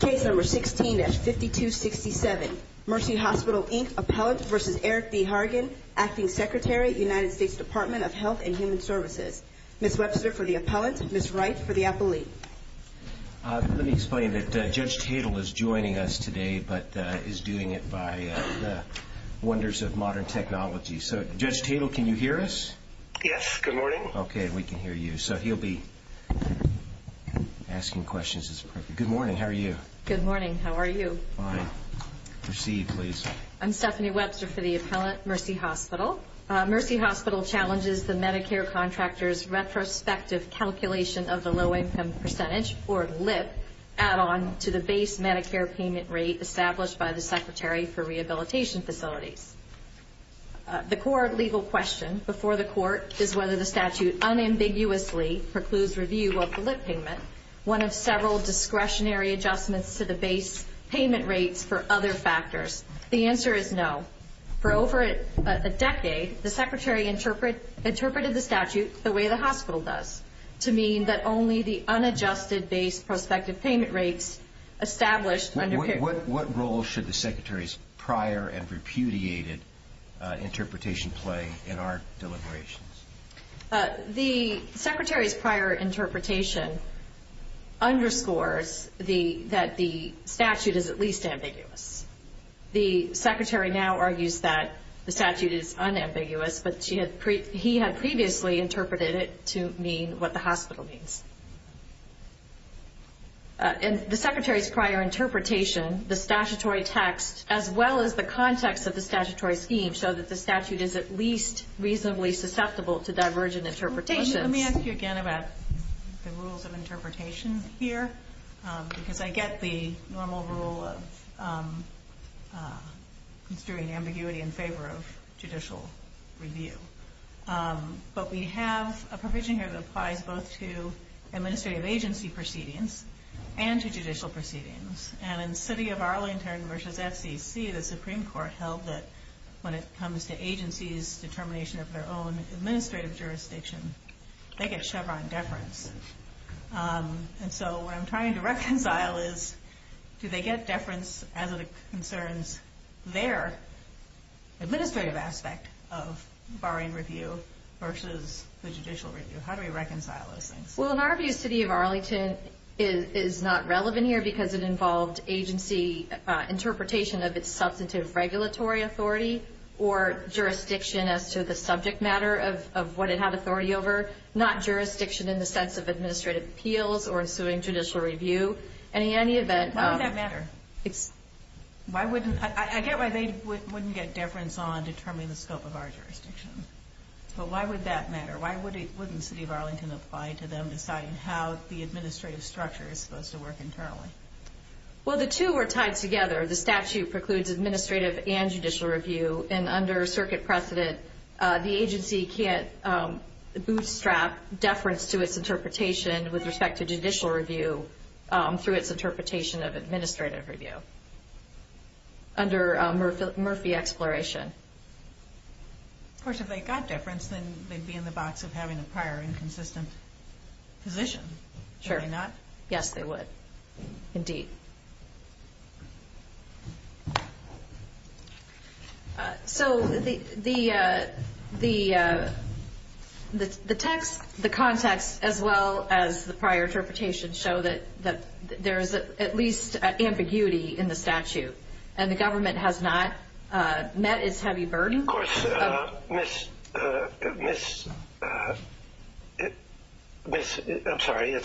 Case No. 16-5267 Mercy Hospital, Inc. Appellant v. Eric B. Hargan, Acting Secretary, United States Department of Health and Human Services Ms. Webster for the Appellant, Ms. Wright for the Appellee Let me explain that Judge Tatel is joining us today but is doing it by the wonders of modern technology Judge Tatel, can you hear us? Yes, good morning Okay, we can hear you. So he'll be asking questions. Good morning, how are you? Good morning, how are you? Fine. Proceed, please. I'm Stephanie Webster for the Appellant, Mercy Hospital. Mercy Hospital challenges the Medicare contractor's retrospective calculation of the low-income percentage, or LIP, add-on to the base Medicare payment rate established by the Secretary for Rehabilitation Facilities. The core legal question before the Court is whether the statute unambiguously precludes review of the LIP payment, one of several discretionary adjustments to the base payment rates for other factors. The answer is no. For over a decade, the Secretary interpreted the statute the way the hospital does, to mean that only the unadjusted base prospective payment rates established under What role should the Secretary's prior and repudiated interpretation play in our deliberations? The Secretary's prior interpretation underscores that the statute is at least ambiguous. The Secretary now argues that the statute is unambiguous, but he had previously interpreted it to mean what the hospital means. In the Secretary's prior interpretation, the statutory text, as well as the context of the statutory scheme, show that the statute is at least reasonably susceptible to divergent interpretations. Let me ask you again about the rules of interpretation here, because I get the normal rule of construing ambiguity in favor of judicial review. But we have a provision here that applies both to administrative agency proceedings and to judicial proceedings. In City of Arlington v. FCC, the Supreme Court held that when it comes to agencies' determination of their own administrative jurisdiction, they get Chevron deference. And so what I'm trying to reconcile is, do they get deference as it concerns their administrative aspect of barring review versus the judicial review? How do we reconcile those things? Well, in our view, City of Arlington is not relevant here because it involved agency interpretation of its substantive regulatory authority or jurisdiction as to the subject matter of what it had authority over, not jurisdiction in the sense of administrative appeals or issuing judicial review. Why would that matter? I get why they wouldn't get deference on determining the scope of our jurisdiction. But why would that matter? Why wouldn't City of Arlington apply to them deciding how the administrative structure is supposed to work internally? Well, the two are tied together. The statute precludes administrative and judicial review. And under circuit precedent, the agency can't bootstrap deference to its interpretation with respect to judicial review through its interpretation of administrative review under Murphy Exploration. Of course, if they got deference, then they'd be in the box of having a prior inconsistent position. Sure. Would they not? Yes, they would, indeed. So the text, the context, as well as the prior interpretation show that there is at least ambiguity in the statute, and the government has not met its heavy burden. Of course, Miss, I'm sorry.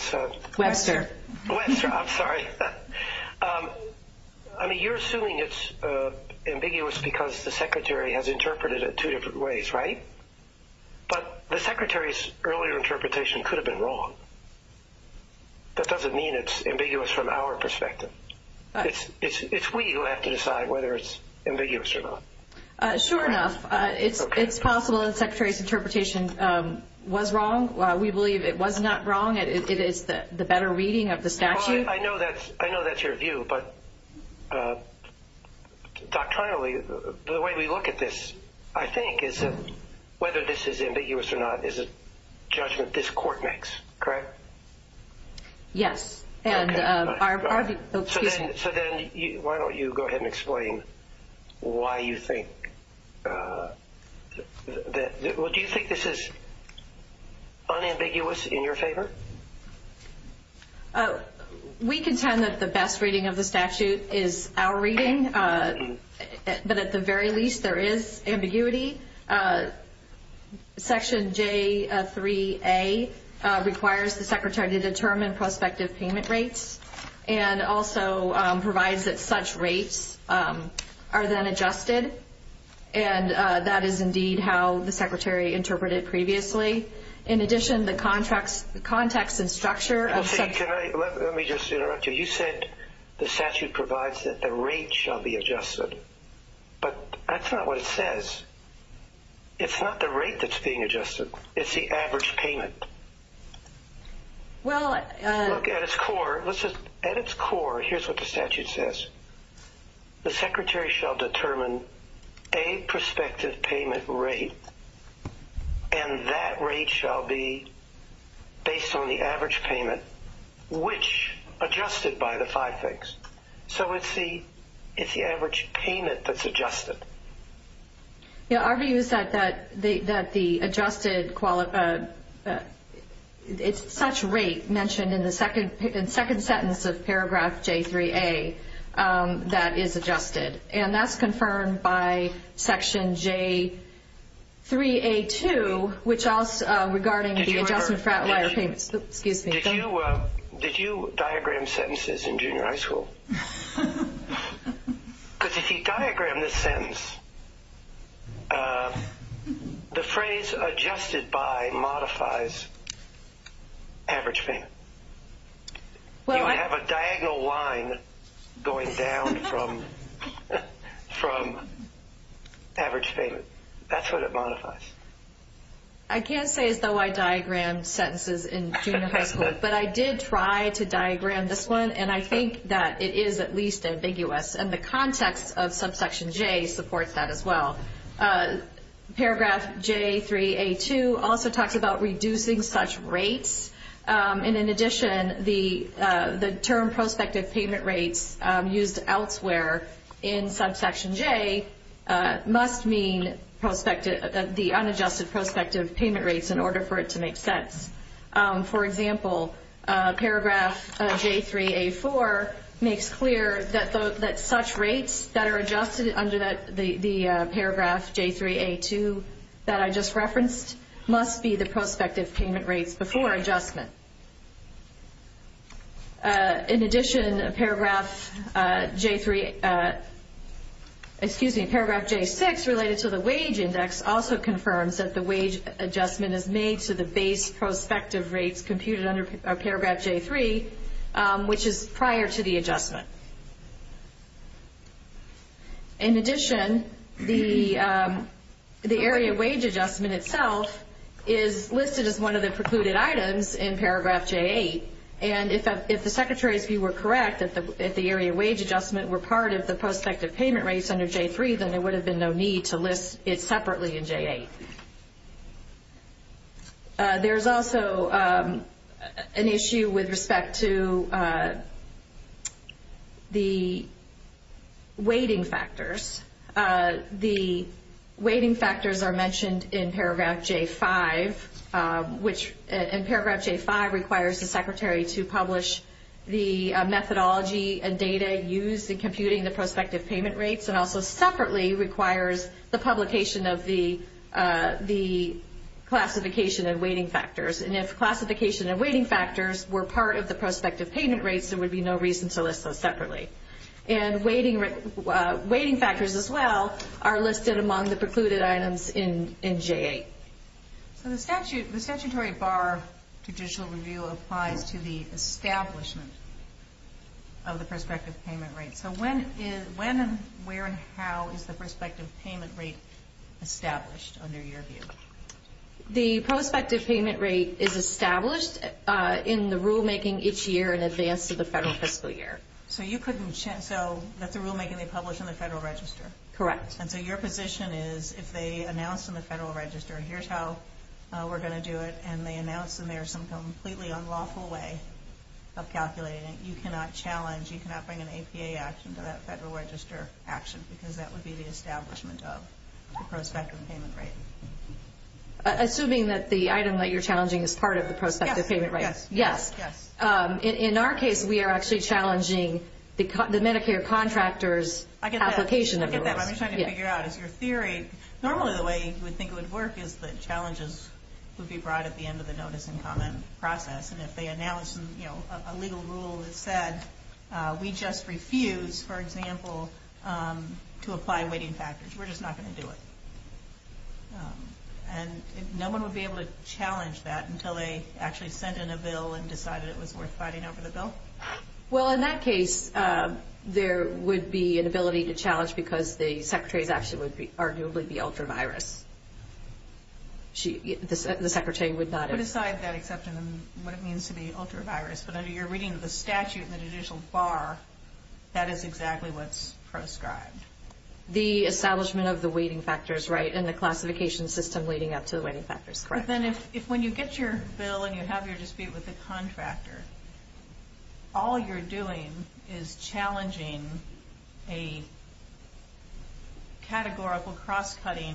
Webster. Webster, I'm sorry. I mean, you're assuming it's ambiguous because the secretary has interpreted it two different ways, right? But the secretary's earlier interpretation could have been wrong. That doesn't mean it's ambiguous from our perspective. It's we who have to decide whether it's ambiguous or not. Sure enough, it's possible that the secretary's interpretation was wrong. We believe it was not wrong. It is the better reading of the statute. I know that's your view. But doctrinally, the way we look at this, I think, is that whether this is ambiguous or not is a judgment this court makes. Correct? Yes. So then why don't you go ahead and explain why you think that – well, do you think this is unambiguous in your favor? We contend that the best reading of the statute is our reading. But at the very least, there is ambiguity. Section J3A requires the secretary to determine prospective payment rates and also provides that such rates are then adjusted. And that is indeed how the secretary interpreted it previously. In addition, the context and structure of such – Let me just interrupt you. But that's not what it says. It's not the rate that's being adjusted. It's the average payment. Look, at its core, here's what the statute says. The secretary shall determine a prospective payment rate, and that rate shall be based on the average payment, which adjusted by the five things. So it's the average payment that's adjusted. Yeah, our view is that the adjusted – it's such rate mentioned in the second sentence of paragraph J3A that is adjusted. And that's confirmed by section J3A2, which also – regarding the adjustment for outlier payments. Did you diagram sentences in junior high school? Because if you diagram this sentence, the phrase adjusted by modifies average payment. You would have a diagonal line going down from average payment. That's what it modifies. I can't say as though I diagrammed sentences in junior high school. But I did try to diagram this one, and I think that it is at least ambiguous. And the context of subsection J supports that as well. Paragraph J3A2 also talks about reducing such rates. And in addition, the term prospective payment rates used elsewhere in subsection J must mean the unadjusted prospective payment rates in order for it to make sense. For example, paragraph J3A4 makes clear that such rates that are adjusted under the paragraph J3A2 that I just referenced must be the prospective payment rates before adjustment. In addition, paragraph J6 related to the wage index also confirms that the wage adjustment is made to the base prospective rates computed under paragraph J3, which is prior to the adjustment. In addition, the area wage adjustment itself is listed as one of the precluded items in paragraph J8. And if the secretary's view were correct that the area wage adjustment were part of the prospective payment rates under J3, then there would have been no need to list it separately in J8. There's also an issue with respect to the weighting factors. The weighting factors are mentioned in paragraph J5, which in paragraph J5 requires the secretary to publish the methodology and data used in computing the prospective payment rates and also separately requires the publication of the classification and weighting factors. And if classification and weighting factors were part of the prospective payment rates, there would be no reason to list those separately. And weighting factors as well are listed among the precluded items in J8. So the statutory BAR judicial review applies to the establishment of the prospective payment rates. So when, where, and how is the prospective payment rate established under your view? The prospective payment rate is established in the rulemaking each year in advance of the federal fiscal year. So that's the rulemaking they publish in the Federal Register? Correct. And so your position is if they announce in the Federal Register, here's how we're going to do it, and they announce in there some completely unlawful way of calculating it, you cannot challenge, you cannot bring an APA action to that Federal Register action because that would be the establishment of the prospective payment rate. Assuming that the item that you're challenging is part of the prospective payment rate. Yes. Yes. In our case, we are actually challenging the Medicare contractor's application of the rules. What I'm trying to figure out is your theory. Normally the way you would think it would work is that challenges would be brought at the end of the notice and comment process. And if they announce, you know, a legal rule that said, we just refuse, for example, to apply weighting factors, we're just not going to do it. And no one would be able to challenge that until they actually sent in a bill and decided it was worth fighting over the bill? Well, in that case, there would be an ability to challenge because the Secretary's action would arguably be ultra-virus. The Secretary would not have. Put aside that exception and what it means to be ultra-virus. But under your reading of the statute in the judicial bar, that is exactly what's proscribed. The establishment of the weighting factors, right, and the classification system leading up to the weighting factors. Correct. But then if when you get your bill and you have your dispute with the contractor, all you're doing is challenging a categorical cross-cutting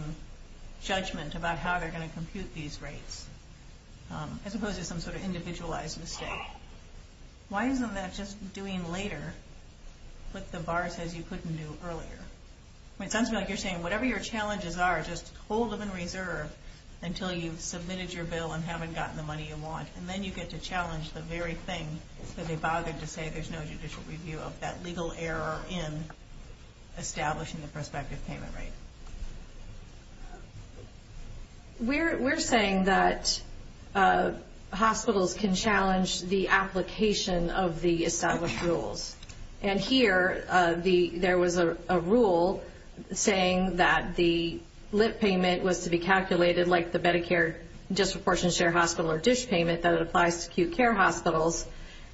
judgment about how they're going to compute these rates, as opposed to some sort of individualized mistake. Why isn't that just doing later what the bar says you couldn't do earlier? It sounds to me like you're saying whatever your challenges are, just hold them in reserve until you've submitted your bill and haven't gotten the money you want. And then you get to challenge the very thing that they bothered to say there's no judicial review of, that legal error in establishing the prospective payment rate. We're saying that hospitals can challenge the application of the established rules. And here there was a rule saying that the lip payment was to be calculated like the Medicare disproportionate share hospital or dish payment that applies to acute care hospitals.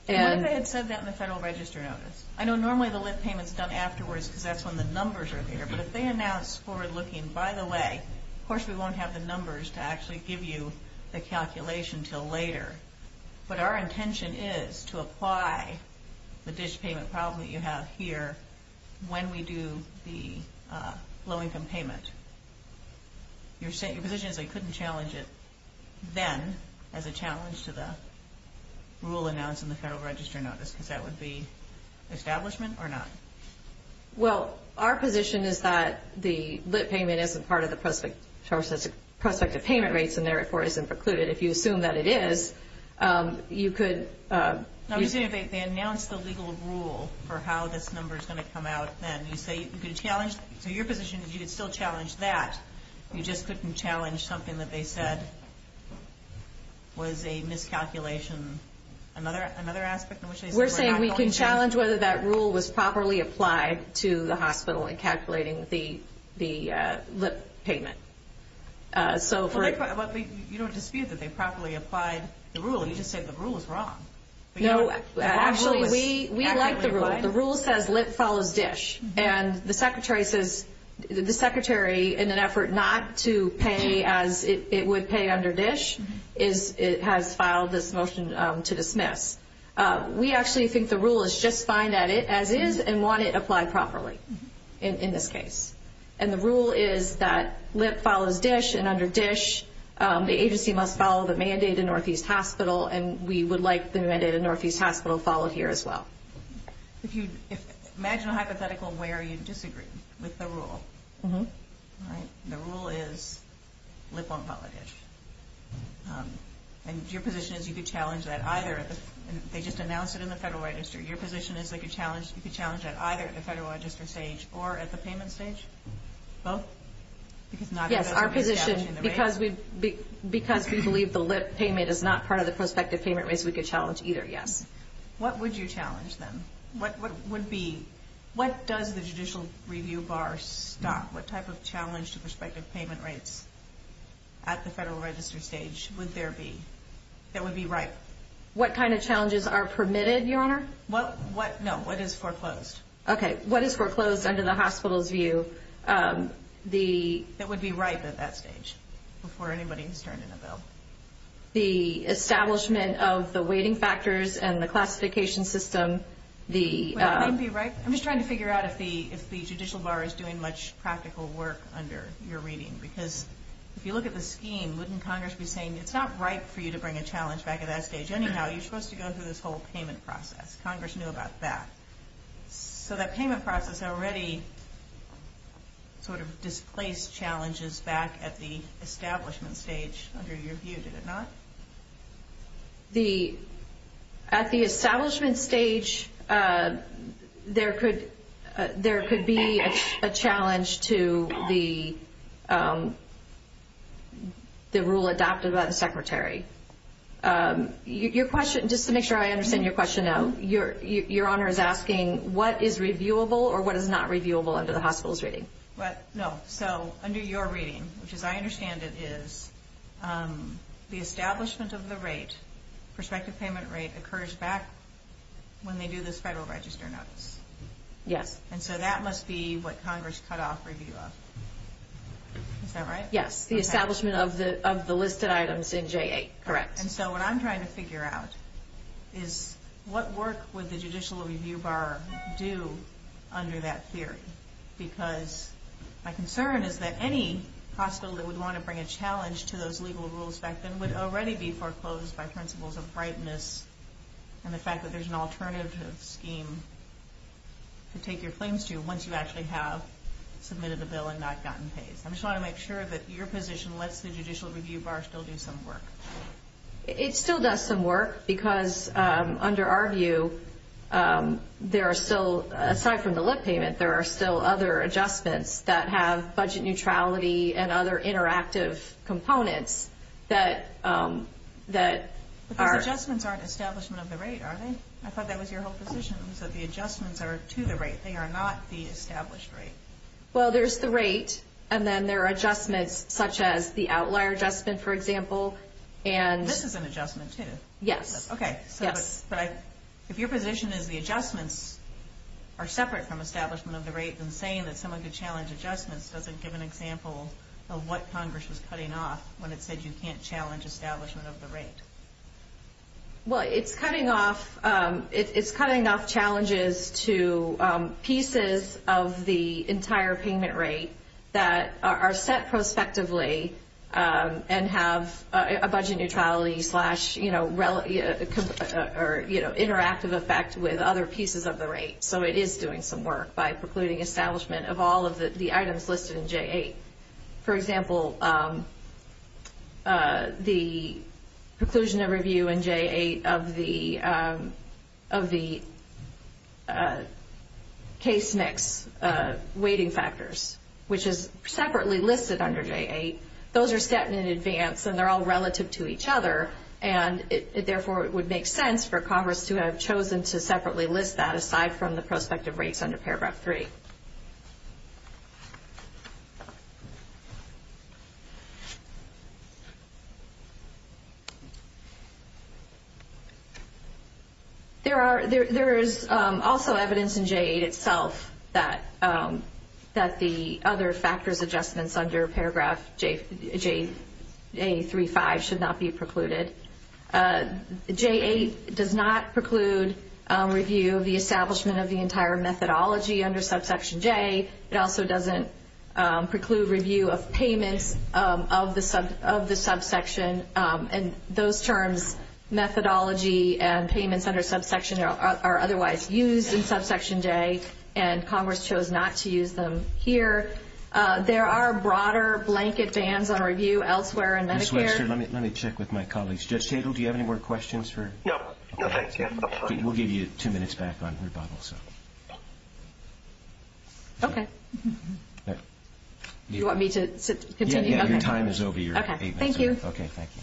What if they had said that in the Federal Register Notice? I know normally the lip payment is done afterwards because that's when the numbers are there. But if they announce forward-looking, by the way, of course we won't have the numbers to actually give you the calculation until later. But our intention is to apply the dish payment problem that you have here when we do the low-income payment. Your position is that you couldn't challenge it then as a challenge to the rule announced in the Federal Register Notice because that would be establishment or not? Well, our position is that the lip payment isn't part of the prospective payment rates and therefore isn't precluded. If you assume that it is, you could. I'm assuming they announced the legal rule for how this number is going to come out then. So your position is you could still challenge that. You just couldn't challenge something that they said was a miscalculation, another aspect in which they said we're not going to. We're saying we can challenge whether that rule was properly applied to the hospital in calculating the lip payment. But you don't dispute that they properly applied the rule. You just said the rule was wrong. Actually, we like the rule. The rule says lip follows dish. And the Secretary, in an effort not to pay as it would pay under dish, has filed this motion to dismiss. We actually think the rule is just fine as is and want it applied properly in this case. And the rule is that lip follows dish. And under dish, the agency must follow the mandate in Northeast Hospital. And we would like the mandate in Northeast Hospital followed here as well. Imagine a hypothetical where you disagree with the rule. The rule is lip won't follow dish. And your position is you could challenge that either. They just announced it in the Federal Register. You could challenge that either at the Federal Register stage or at the payment stage? Both? Yes, our position, because we believe the lip payment is not part of the prospective payment rates, we could challenge either, yes. What would you challenge then? What does the judicial review bar stop? What type of challenge to prospective payment rates at the Federal Register stage would there be that would be right? What kind of challenges are permitted, Your Honor? No, what is foreclosed? Okay, what is foreclosed under the hospital's view? That would be ripe at that stage before anybody has turned in a bill. The establishment of the weighting factors and the classification system. I'm just trying to figure out if the judicial bar is doing much practical work under your reading. Because if you look at the scheme, wouldn't Congress be saying it's not right for you to bring a challenge back at that stage. Anyhow, you're supposed to go through this whole payment process. Congress knew about that. So that payment process already sort of displaced challenges back at the establishment stage under your view, did it not? At the establishment stage, there could be a challenge to the rule adopted by the Secretary. Just to make sure I understand your question, Your Honor is asking what is reviewable or what is not reviewable under the hospital's reading. No, so under your reading, which as I understand it is, the establishment of the rate, prospective payment rate, occurs back when they do those Federal Register notes. Yes. And so that must be what Congress cut off review of. Is that right? Yes, the establishment of the listed items in J8, correct. And so what I'm trying to figure out is what work would the judicial review bar do under that theory. Because my concern is that any hospital that would want to bring a challenge to those legal rules back then would already be foreclosed by principles of brightness. And the fact that there's an alternative scheme to take your claims to once you actually have submitted a bill and not gotten pays. I'm just trying to make sure that your position lets the judicial review bar still do some work. It still does some work because under our view, there are still, aside from the lip payment, there are still other adjustments that have budget neutrality and other interactive components that are. But those adjustments aren't establishment of the rate, are they? I thought that was your whole position was that the adjustments are to the rate. They are not the established rate. Well, there's the rate and then there are adjustments such as the outlier adjustment, for example. And this is an adjustment, too. Yes. OK. Yes. But if your position is the adjustments are separate from establishment of the rate and saying that someone could challenge adjustments, does it give an example of what Congress was cutting off when it said you can't challenge establishment of the rate? Well, it's cutting off. It's cutting off challenges to pieces of the entire payment rate that are set prospectively and have a budget neutrality slash, you know, relative or, you know, interactive effect with other pieces of the rate. So it is doing some work by precluding establishment of all of the items listed in J8. For example, the conclusion of review in J8 of the case mix weighting factors, which is separately listed under J8, those are set in advance and they're all relative to each other. And therefore, it would make sense for Congress to have chosen to separately list that aside from the prospective rates under Paragraph 3. There is also evidence in J8 itself that the other factors adjustments under Paragraph J835 should not be precluded. J8 does not preclude review of the establishment of the entire methodology under Subsection J. It also doesn't preclude review of payments of the subsection. And those terms, methodology and payments under subsection are otherwise used in Subsection J. And Congress chose not to use them here. There are broader blanket bans on review elsewhere in Medicare. Let me check with my colleagues. Judge Tittle, do you have any more questions? No, thank you. We'll give you two minutes back on rebuttal. Okay. Do you want me to continue? Yeah, your time is over. Okay, thank you. Okay, thank you.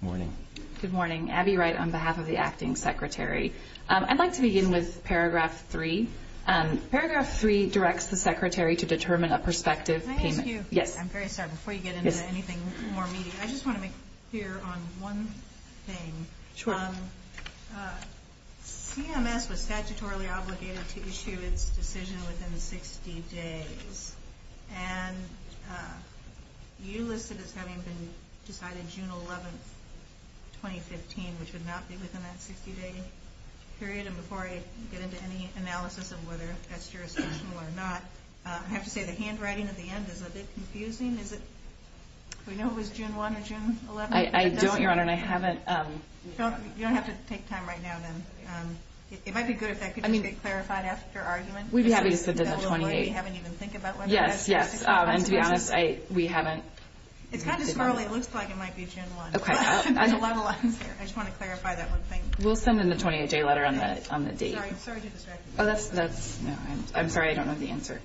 Good morning. Good morning. Abby Wright on behalf of the Acting Secretary. I'd like to begin with Paragraph 3. Paragraph 3 directs the Secretary to determine a prospective payment. Can I ask you? Yes. I'm very sorry. Before you get into anything more immediate, I just want to make clear on one thing. Sure. CMS was statutorily obligated to issue its decision within 60 days. And you listed as having been decided June 11, 2015, which would not be within that 60-day period. And before I get into any analysis of whether that's jurisdictional or not, I have to say the handwriting at the end is a bit confusing. Is it? We know it was June 1 or June 11. I don't, Your Honor, and I haven't. You don't have to take time right now then. It might be good if that could just get clarified after argument. We'd be happy to send in the 28. You haven't even think about whether that's jurisdictional or not. Yes, yes. And to be honest, we haven't. It's kind of squirrely. It looks like it might be June 1. Okay. I just want to clarify that one thing. We'll send in the 28-day letter on the date. Sorry to distract you. I'm sorry. I don't know the answer.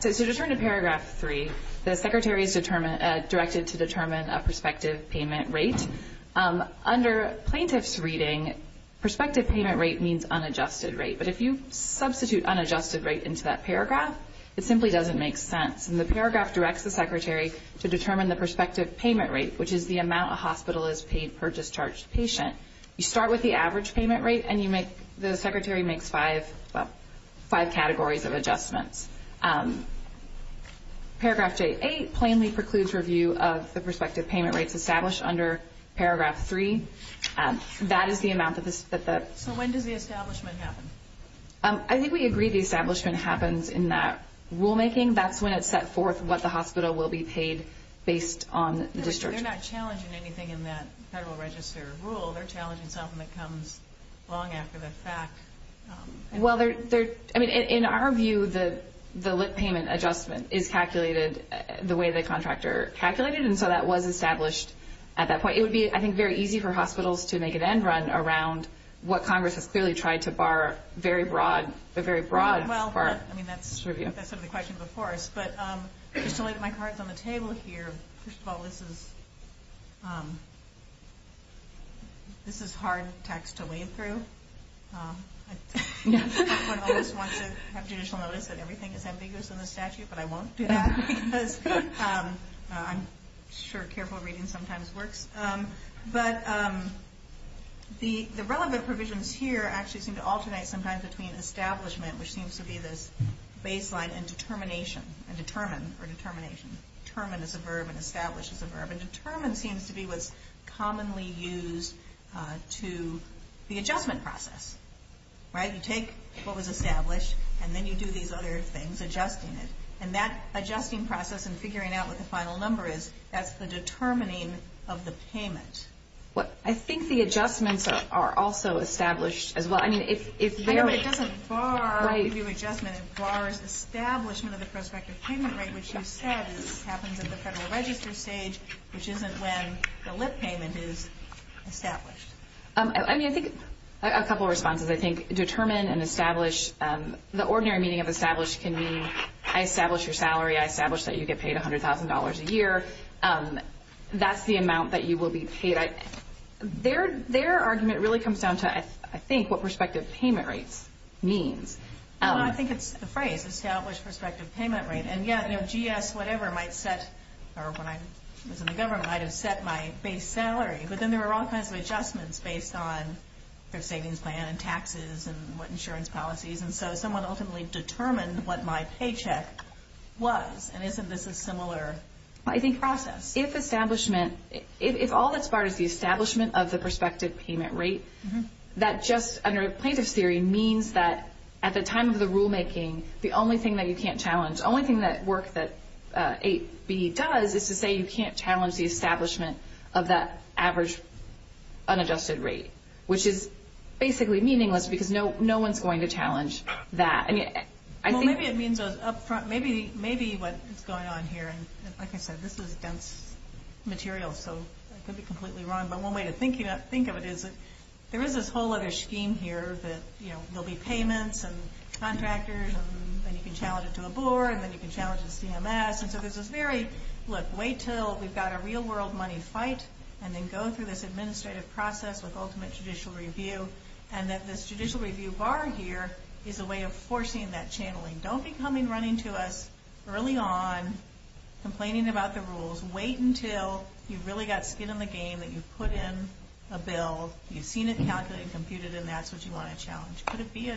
So to turn to Paragraph 3, the Secretary is directed to determine a prospective payment rate. Under plaintiff's reading, prospective payment rate means unadjusted rate. But if you substitute unadjusted rate into that paragraph, it simply doesn't make sense. And the paragraph directs the Secretary to determine the prospective payment rate, which is the amount a hospital is paid per discharged patient. You start with the average payment rate, and the Secretary makes five categories of adjustments. Paragraph J8 plainly precludes review of the prospective payment rates established under Paragraph 3. That is the amount that the So when does the establishment happen? I think we agree the establishment happens in that rulemaking. That's when it's set forth what the hospital will be paid based on discharge. They're not challenging anything in that Federal Register rule. They're challenging something that comes long after the fact. Well, in our view, the lit payment adjustment is calculated the way the contractor calculated it, and so that was established at that point. It would be, I think, very easy for hospitals to make an end run around what Congress has clearly tried to bar very broad. Well, I mean, that's sort of the question before us. But just to lay my cards on the table here, first of all, this is hard text to wade through. Everyone always wants to have judicial notice that everything is ambiguous in the statute, but I won't do that. I'm sure careful reading sometimes works. But the relevant provisions here actually seem to alternate sometimes between establishment, which seems to be this baseline, and determination, and determine, or determination. Determine is a verb, and establish is a verb. And determine seems to be what's commonly used to the adjustment process. You take what was established, and then you do these other things, adjusting it. And that adjusting process and figuring out what the final number is, that's the determining of the payment. Well, I think the adjustments are also established as well. I know, but it doesn't bar the adjustment. It bars establishment of the prospective payment rate, which you said happens at the federal register stage, which isn't when the lit payment is established. I mean, I think a couple of responses. I think determine and establish, the ordinary meaning of establish can mean I establish your salary, I establish that you get paid $100,000 a year. That's the amount that you will be paid. Their argument really comes down to, I think, what prospective payment rates means. Well, I think it's the phrase, established prospective payment rate. And, yeah, you know, GS whatever might set, or when I was in the government, might have set my base salary. But then there were all kinds of adjustments based on their savings plan and taxes and what insurance policies. And so someone ultimately determined what my paycheck was. And isn't this a similar process? If establishment, if all that's barred is the establishment of the prospective payment rate, that just under plaintiff's theory means that at the time of the rulemaking, the only thing that you can't challenge, the only thing that work that 8B does is to say you can't challenge the establishment of that average unadjusted rate, which is basically meaningless because no one's going to challenge that. Well, maybe it means up front. Maybe what's going on here, and like I said, this is dense material, so I could be completely wrong. But one way to think of it is there is this whole other scheme here that, you know, there'll be payments and contractors, and then you can challenge it to a board, and then you can challenge the CMS. And so there's this very, look, wait until we've got a real-world money fight, and then go through this administrative process with ultimate judicial review, and that this judicial review bar here is a way of forcing that channeling. Don't be coming running to us early on, complaining about the rules. Wait until you've really got skin in the game, that you've put in a bill, you've seen it calculated and computed, and that's what you want to challenge. Could it be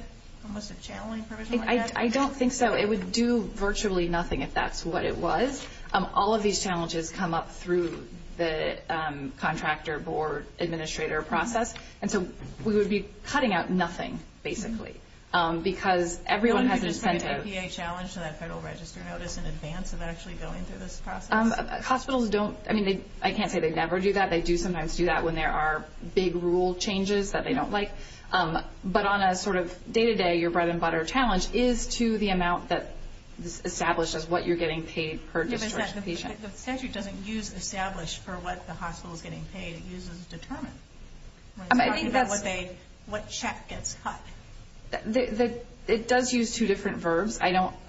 almost a channeling provision like that? I don't think so. It would do virtually nothing if that's what it was. All of these challenges come up through the contractor-board-administrator process. And so we would be cutting out nothing, basically, because everyone has this pent-up APA challenge to that federal register notice in advance of actually going through this process. Hospitals don't, I mean, I can't say they never do that. They do sometimes do that when there are big rule changes that they don't like. But on a sort of day-to-day, your bread-and-butter challenge is to the amount that is established as what you're getting paid per discharge patient. The statute doesn't use established for what the hospital is getting paid. It uses determined. It's talking about what check gets cut. It does use two different verbs.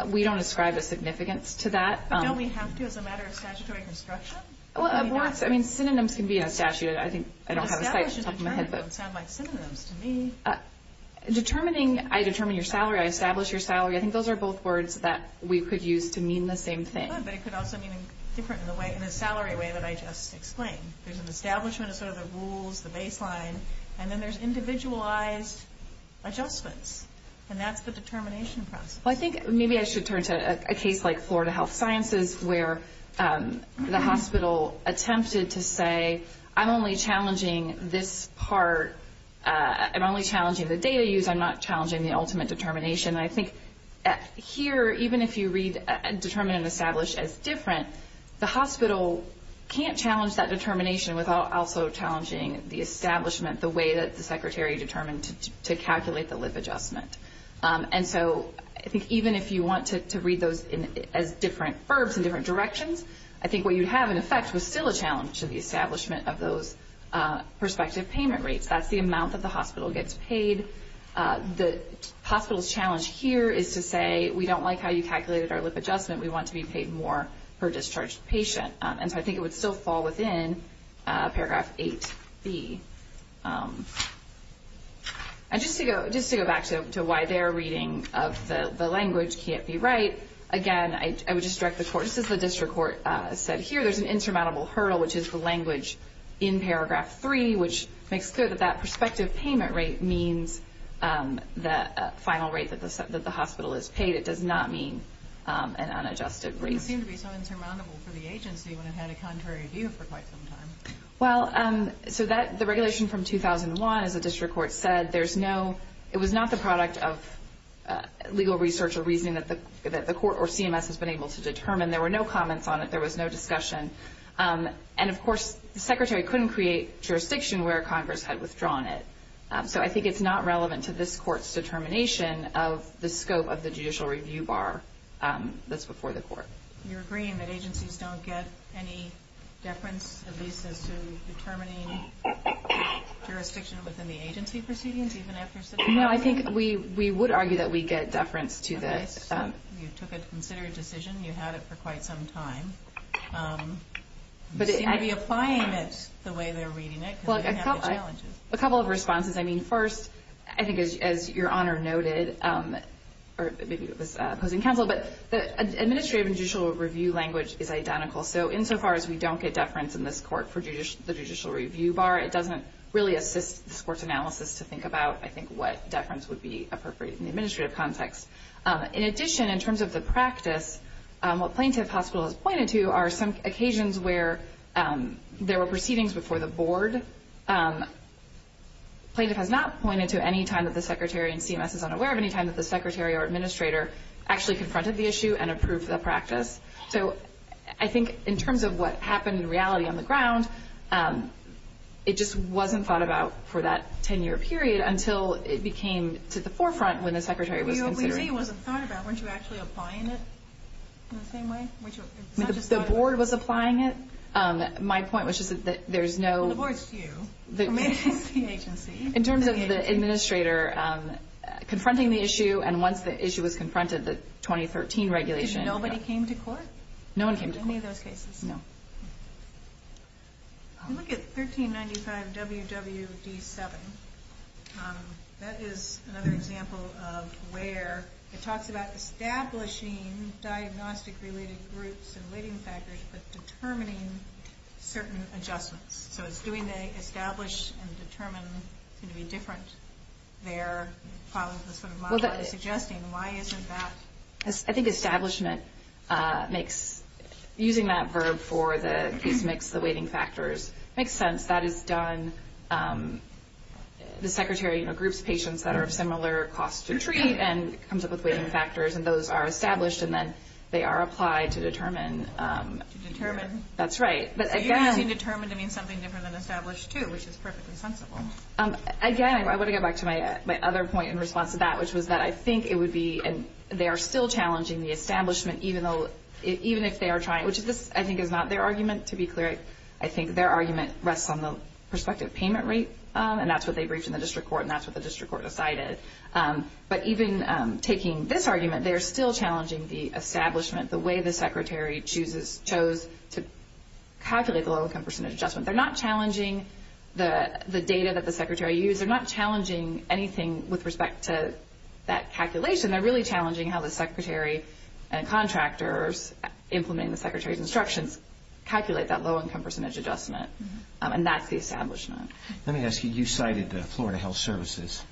We don't ascribe a significance to that. But don't we have to as a matter of statutory construction? Well, I mean, synonyms can be in a statute. I think I don't have a site to talk about that. Established and determined don't sound like synonyms to me. Determining, I determine your salary, I establish your salary, I think those are both words that we could use to mean the same thing. But it could also mean different in a salary way that I just explained. There's an establishment of sort of the rules, the baseline, and then there's individualized adjustments, and that's the determination process. Well, I think maybe I should turn to a case like Florida Health Sciences where the hospital attempted to say, I'm only challenging this part, I'm only challenging the data used, I'm not challenging the ultimate determination. And I think here, even if you read determined and established as different, the hospital can't challenge that determination without also challenging the establishment, the way that the secretary determined to calculate the live adjustment. And so I think even if you want to read those as different verbs in different directions, I think what you'd have in effect was still a challenge to the establishment of those prospective payment rates. That's the amount that the hospital gets paid. The hospital's challenge here is to say, we don't like how you calculated our live adjustment, we want to be paid more per discharged patient. And so I think it would still fall within paragraph 8B. And just to go back to why their reading of the language can't be right, again, I would just direct the court, just as the district court said here, there's an insurmountable hurdle, which is the language in paragraph 3, which makes clear that that prospective payment rate means the final rate that the hospital is paid. It does not mean an unadjusted rate. It seemed to be so insurmountable for the agency when it had a contrary view for quite some time. Well, so the regulation from 2001, as the district court said, it was not the product of legal research or reasoning that the court or CMS has been able to determine. There were no comments on it. There was no discussion. And, of course, the Secretary couldn't create jurisdiction where Congress had withdrawn it. So I think it's not relevant to this court's determination of the scope of the judicial review bar that's before the court. You're agreeing that agencies don't get any deference, at least as to determining jurisdiction within the agency proceedings, even after such a hearing? No, I think we would argue that we get deference to this. You took a considered decision. You had it for quite some time. You seem to be applying it the way they're reading it because they have the challenges. A couple of responses. I mean, first, I think, as Your Honor noted, or maybe it was opposing counsel, but the administrative and judicial review language is identical. So insofar as we don't get deference in this court for the judicial review bar, it doesn't really assist this court's analysis to think about, I think, what deference would be appropriate in the administrative context. In addition, in terms of the practice, what Plaintiff Hospital has pointed to are some occasions where there were proceedings before the board. Plaintiff has not pointed to any time that the Secretary and CMS is unaware of any time that the Secretary or Administrator actually confronted the issue and approved the practice. So I think in terms of what happened in reality on the ground, it just wasn't thought about for that 10-year period until it became to the forefront when the Secretary was considering it. The OVC wasn't thought about. Weren't you actually applying it in the same way? The board was applying it. My point was just that there's no... Well, the board's to you. The agency. In terms of the Administrator confronting the issue and once the issue was confronted, the 2013 regulation... Did nobody came to court? No one came to court. In any of those cases? No. If you look at 1395WWD7, that is another example of where it talks about establishing diagnostic-related groups and weighting factors but determining certain adjustments. So it's doing the establish and determine, it's going to be different there, following the sort of model I was suggesting. Why isn't that... I think establishment makes, using that verb for the case mix, the weighting factors, makes sense. That is done. The Secretary groups patients that are of similar cost to treat and comes up with weighting factors and those are established and then they are applied to determine. To determine. That's right. But again... It's defining something different than established too, which is perfectly sensible. Again, I want to get back to my other point in response to that, which was that I think it would be, and they are still challenging the establishment even if they are trying, which I think is not their argument, to be clear. I think their argument rests on the prospective payment rate and that's what they briefed in the district court and that's what the district court decided. But even taking this argument, they are still challenging the establishment, the way the Secretary chose to calculate the low income percentage adjustment. They are not challenging the data that the Secretary used. They are not challenging anything with respect to that calculation. They are really challenging how the Secretary and contractors implementing the Secretary's instructions calculate that low income percentage adjustment. And that's the establishment. Let me ask you, you cited Florida Health Services.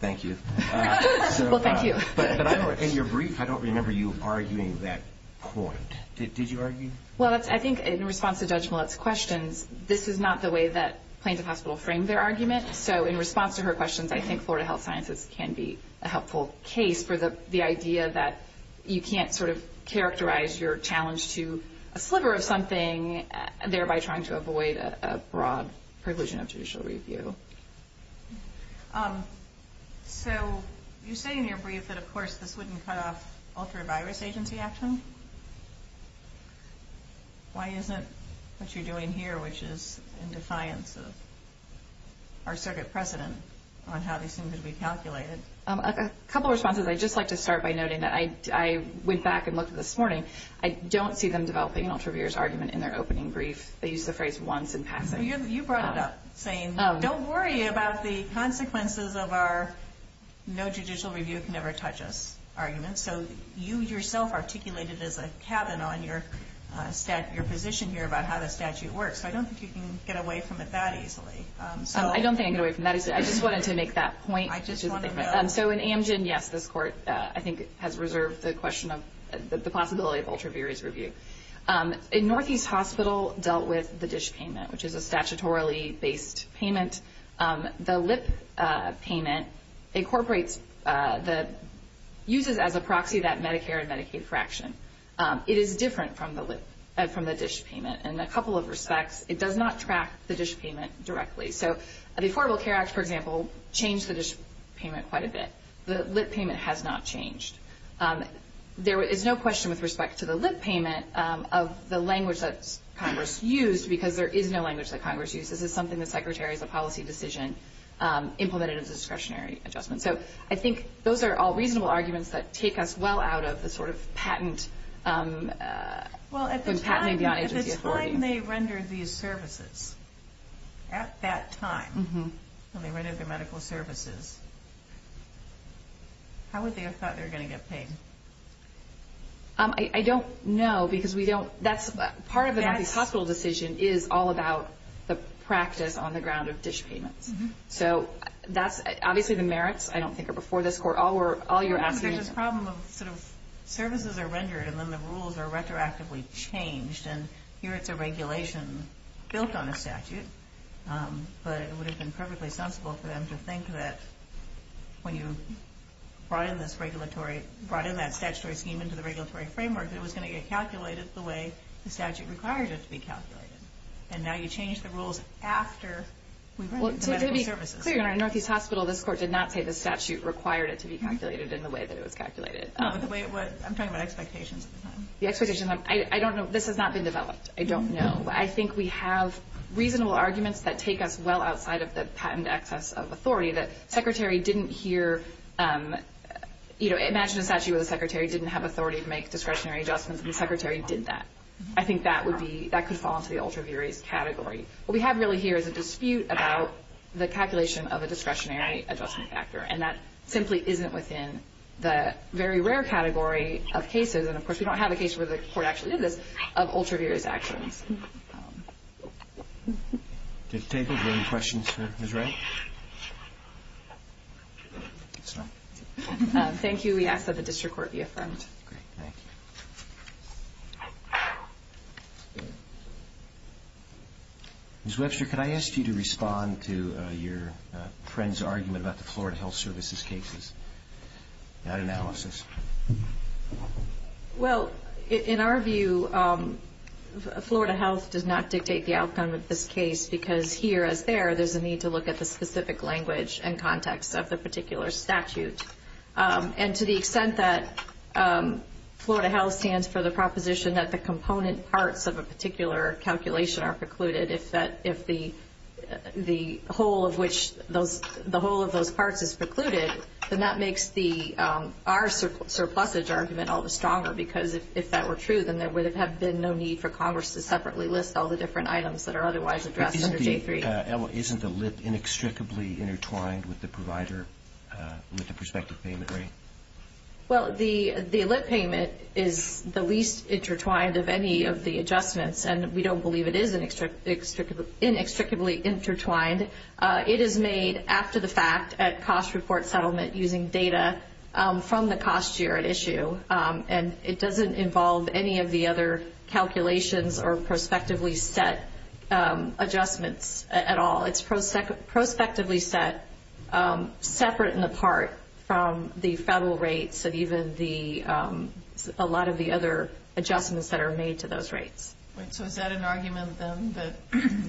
Thank you. Well, thank you. But in your brief, I don't remember you arguing that point. Did you argue? Well, I think in response to Judge Millett's questions, this is not the way that Plaintiff Hospital framed their argument. So in response to her questions, I think Florida Health Sciences can be a helpful case for the idea that you can't sort of characterize your challenge to a sliver of something, thereby trying to avoid a broad preclusion of judicial review. So you say in your brief that, of course, this wouldn't cut off ultra-virus agency action. Why isn't what you're doing here, which is in defiance of our circuit precedent, on how they seem to be calculated? A couple of responses. I'd just like to start by noting that I went back and looked at this morning. I don't see them developing an ultra-virus argument in their opening brief. They used the phrase once in passing. You brought it up, saying, don't worry about the consequences of our no judicial review can ever touch us argument. So you yourself articulated as a cabin on your position here about how the statute works. So I don't think you can get away from it that easily. I don't think I can get away from that easily. I just wanted to make that point. I just want to know. So in Amgen, yes, this court, I think, has reserved the possibility of ultra-virus review. In Northeast Hospital, dealt with the dish payment, which is a statutorily-based payment. The lip payment incorporates the uses as a proxy that Medicare and Medicaid fraction. It is different from the dish payment in a couple of respects. It does not track the dish payment directly. So the Affordable Care Act, for example, changed the dish payment quite a bit. The lip payment has not changed. There is no question with respect to the lip payment of the language that Congress used, because there is no language that Congress uses. This is something the Secretary, as a policy decision, implemented as a discretionary adjustment. So I think those are all reasonable arguments that take us well out of the sort of patent. Well, at the time they rendered these services, at that time when they rendered their medical services, how would they have thought they were going to get paid? I don't know, because we don't. Part of the Northeast Hospital decision is all about the practice on the ground of dish payments. So that's obviously the merits. I don't think it before this court. All you're asking is... There's this problem of sort of services are rendered and then the rules are retroactively changed, and here it's a regulation built on a statute, but it would have been perfectly sensible for them to think that when you brought in that statutory scheme into the regulatory framework, it was going to get calculated the way the statute required it to be calculated. And now you change the rules after we rendered the medical services. Well, to be clear, in our Northeast Hospital, this court did not say the statute required it to be calculated in the way that it was calculated. No, but the way it was... I'm talking about expectations at the time. The expectations... I don't know. This has not been developed. I don't know. I think we have reasonable arguments that take us well outside of the patent access of authority that the Secretary didn't hear... Imagine a statute where the Secretary didn't have authority to make discretionary adjustments, and the Secretary did that. I think that could fall into the ultra-verious category. What we have really here is a dispute about the calculation of a discretionary adjustment factor, and that simply isn't within the very rare category of cases, and, of course, we don't have a case where the court actually did this, of ultra-verious actions. Did it take? Were there any questions for Ms. Wright? Thank you. We ask that the district court be affirmed. Great. Thank you. Ms. Webster, could I ask you to respond to your friend's argument about the Florida Health Services cases? That analysis. Well, in our view, Florida Health does not dictate the outcome of this case because here, as there, there's a need to look at the specific language and context of the particular statute. And to the extent that Florida Health stands for the proposition that the component parts of a particular calculation are precluded, if the whole of those parts is precluded, then that makes our surplusage argument all the stronger because if that were true, then there would have been no need for Congress to separately list all the different items that are otherwise addressed under J3. Isn't the LIP inextricably intertwined with the provider with the prospective payment rate? Well, the LIP payment is the least intertwined of any of the adjustments, and we don't believe it is inextricably intertwined. It is made after the fact at cost report settlement using data from the cost year at issue, and it doesn't involve any of the other calculations or prospectively set adjustments at all. It's prospectively set separate and apart from the federal rates and even a lot of the other adjustments that are made to those rates. So is that an argument, then, that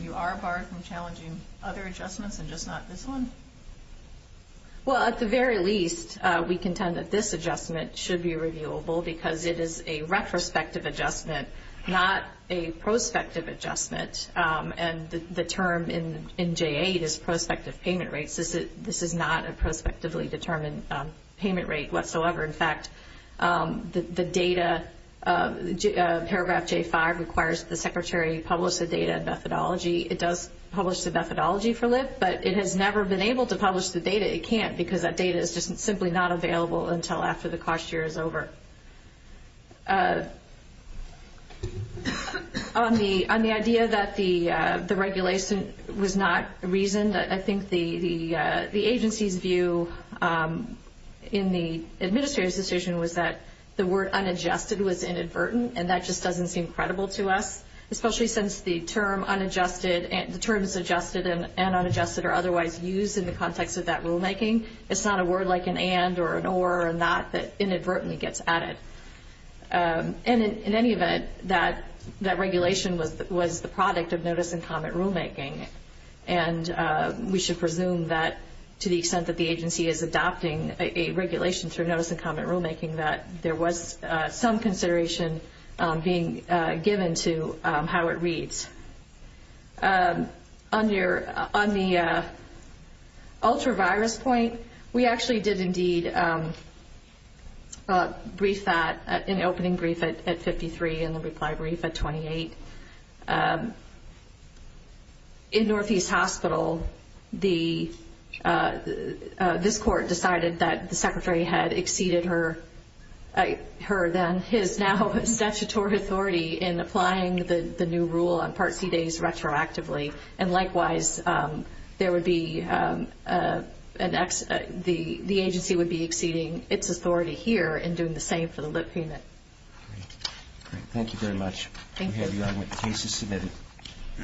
you are apart from challenging other adjustments and just not this one? Well, at the very least, we contend that this adjustment should be reviewable because it is a retrospective adjustment, not a prospective adjustment, and the term in J8 is prospective payment rates. This is not a prospectively determined payment rate whatsoever. In fact, the data, paragraph J5, requires the Secretary publish the data methodology. It does publish the methodology for LIP, but it has never been able to publish the data. It can't because that data is just simply not available until after the cost year is over. On the idea that the regulation was not reasoned, I think the agency's view in the administrative decision was that the word unadjusted was inadvertent, and that just doesn't seem credible to us, especially since the term is adjusted and unadjusted or otherwise used in the context of that rulemaking. It's not a word like an and or an or or not that inadvertently gets added. In any event, that regulation was the product of notice and comment rulemaking, and we should presume that to the extent that the agency is adopting a regulation through notice and comment rulemaking that there was some consideration being given to how it reads. On the ultra-virus point, we actually did indeed brief that, an opening brief at 53 and a reply brief at 28. In Northeast Hospital, this court decided that the Secretary had exceeded her then, his now statutory authority in applying the new rule on Part C days retroactively, and likewise, the agency would be exceeding its authority here in doing the same for the lip payment. Great. Thank you very much. Thank you. We have your argument cases submitted.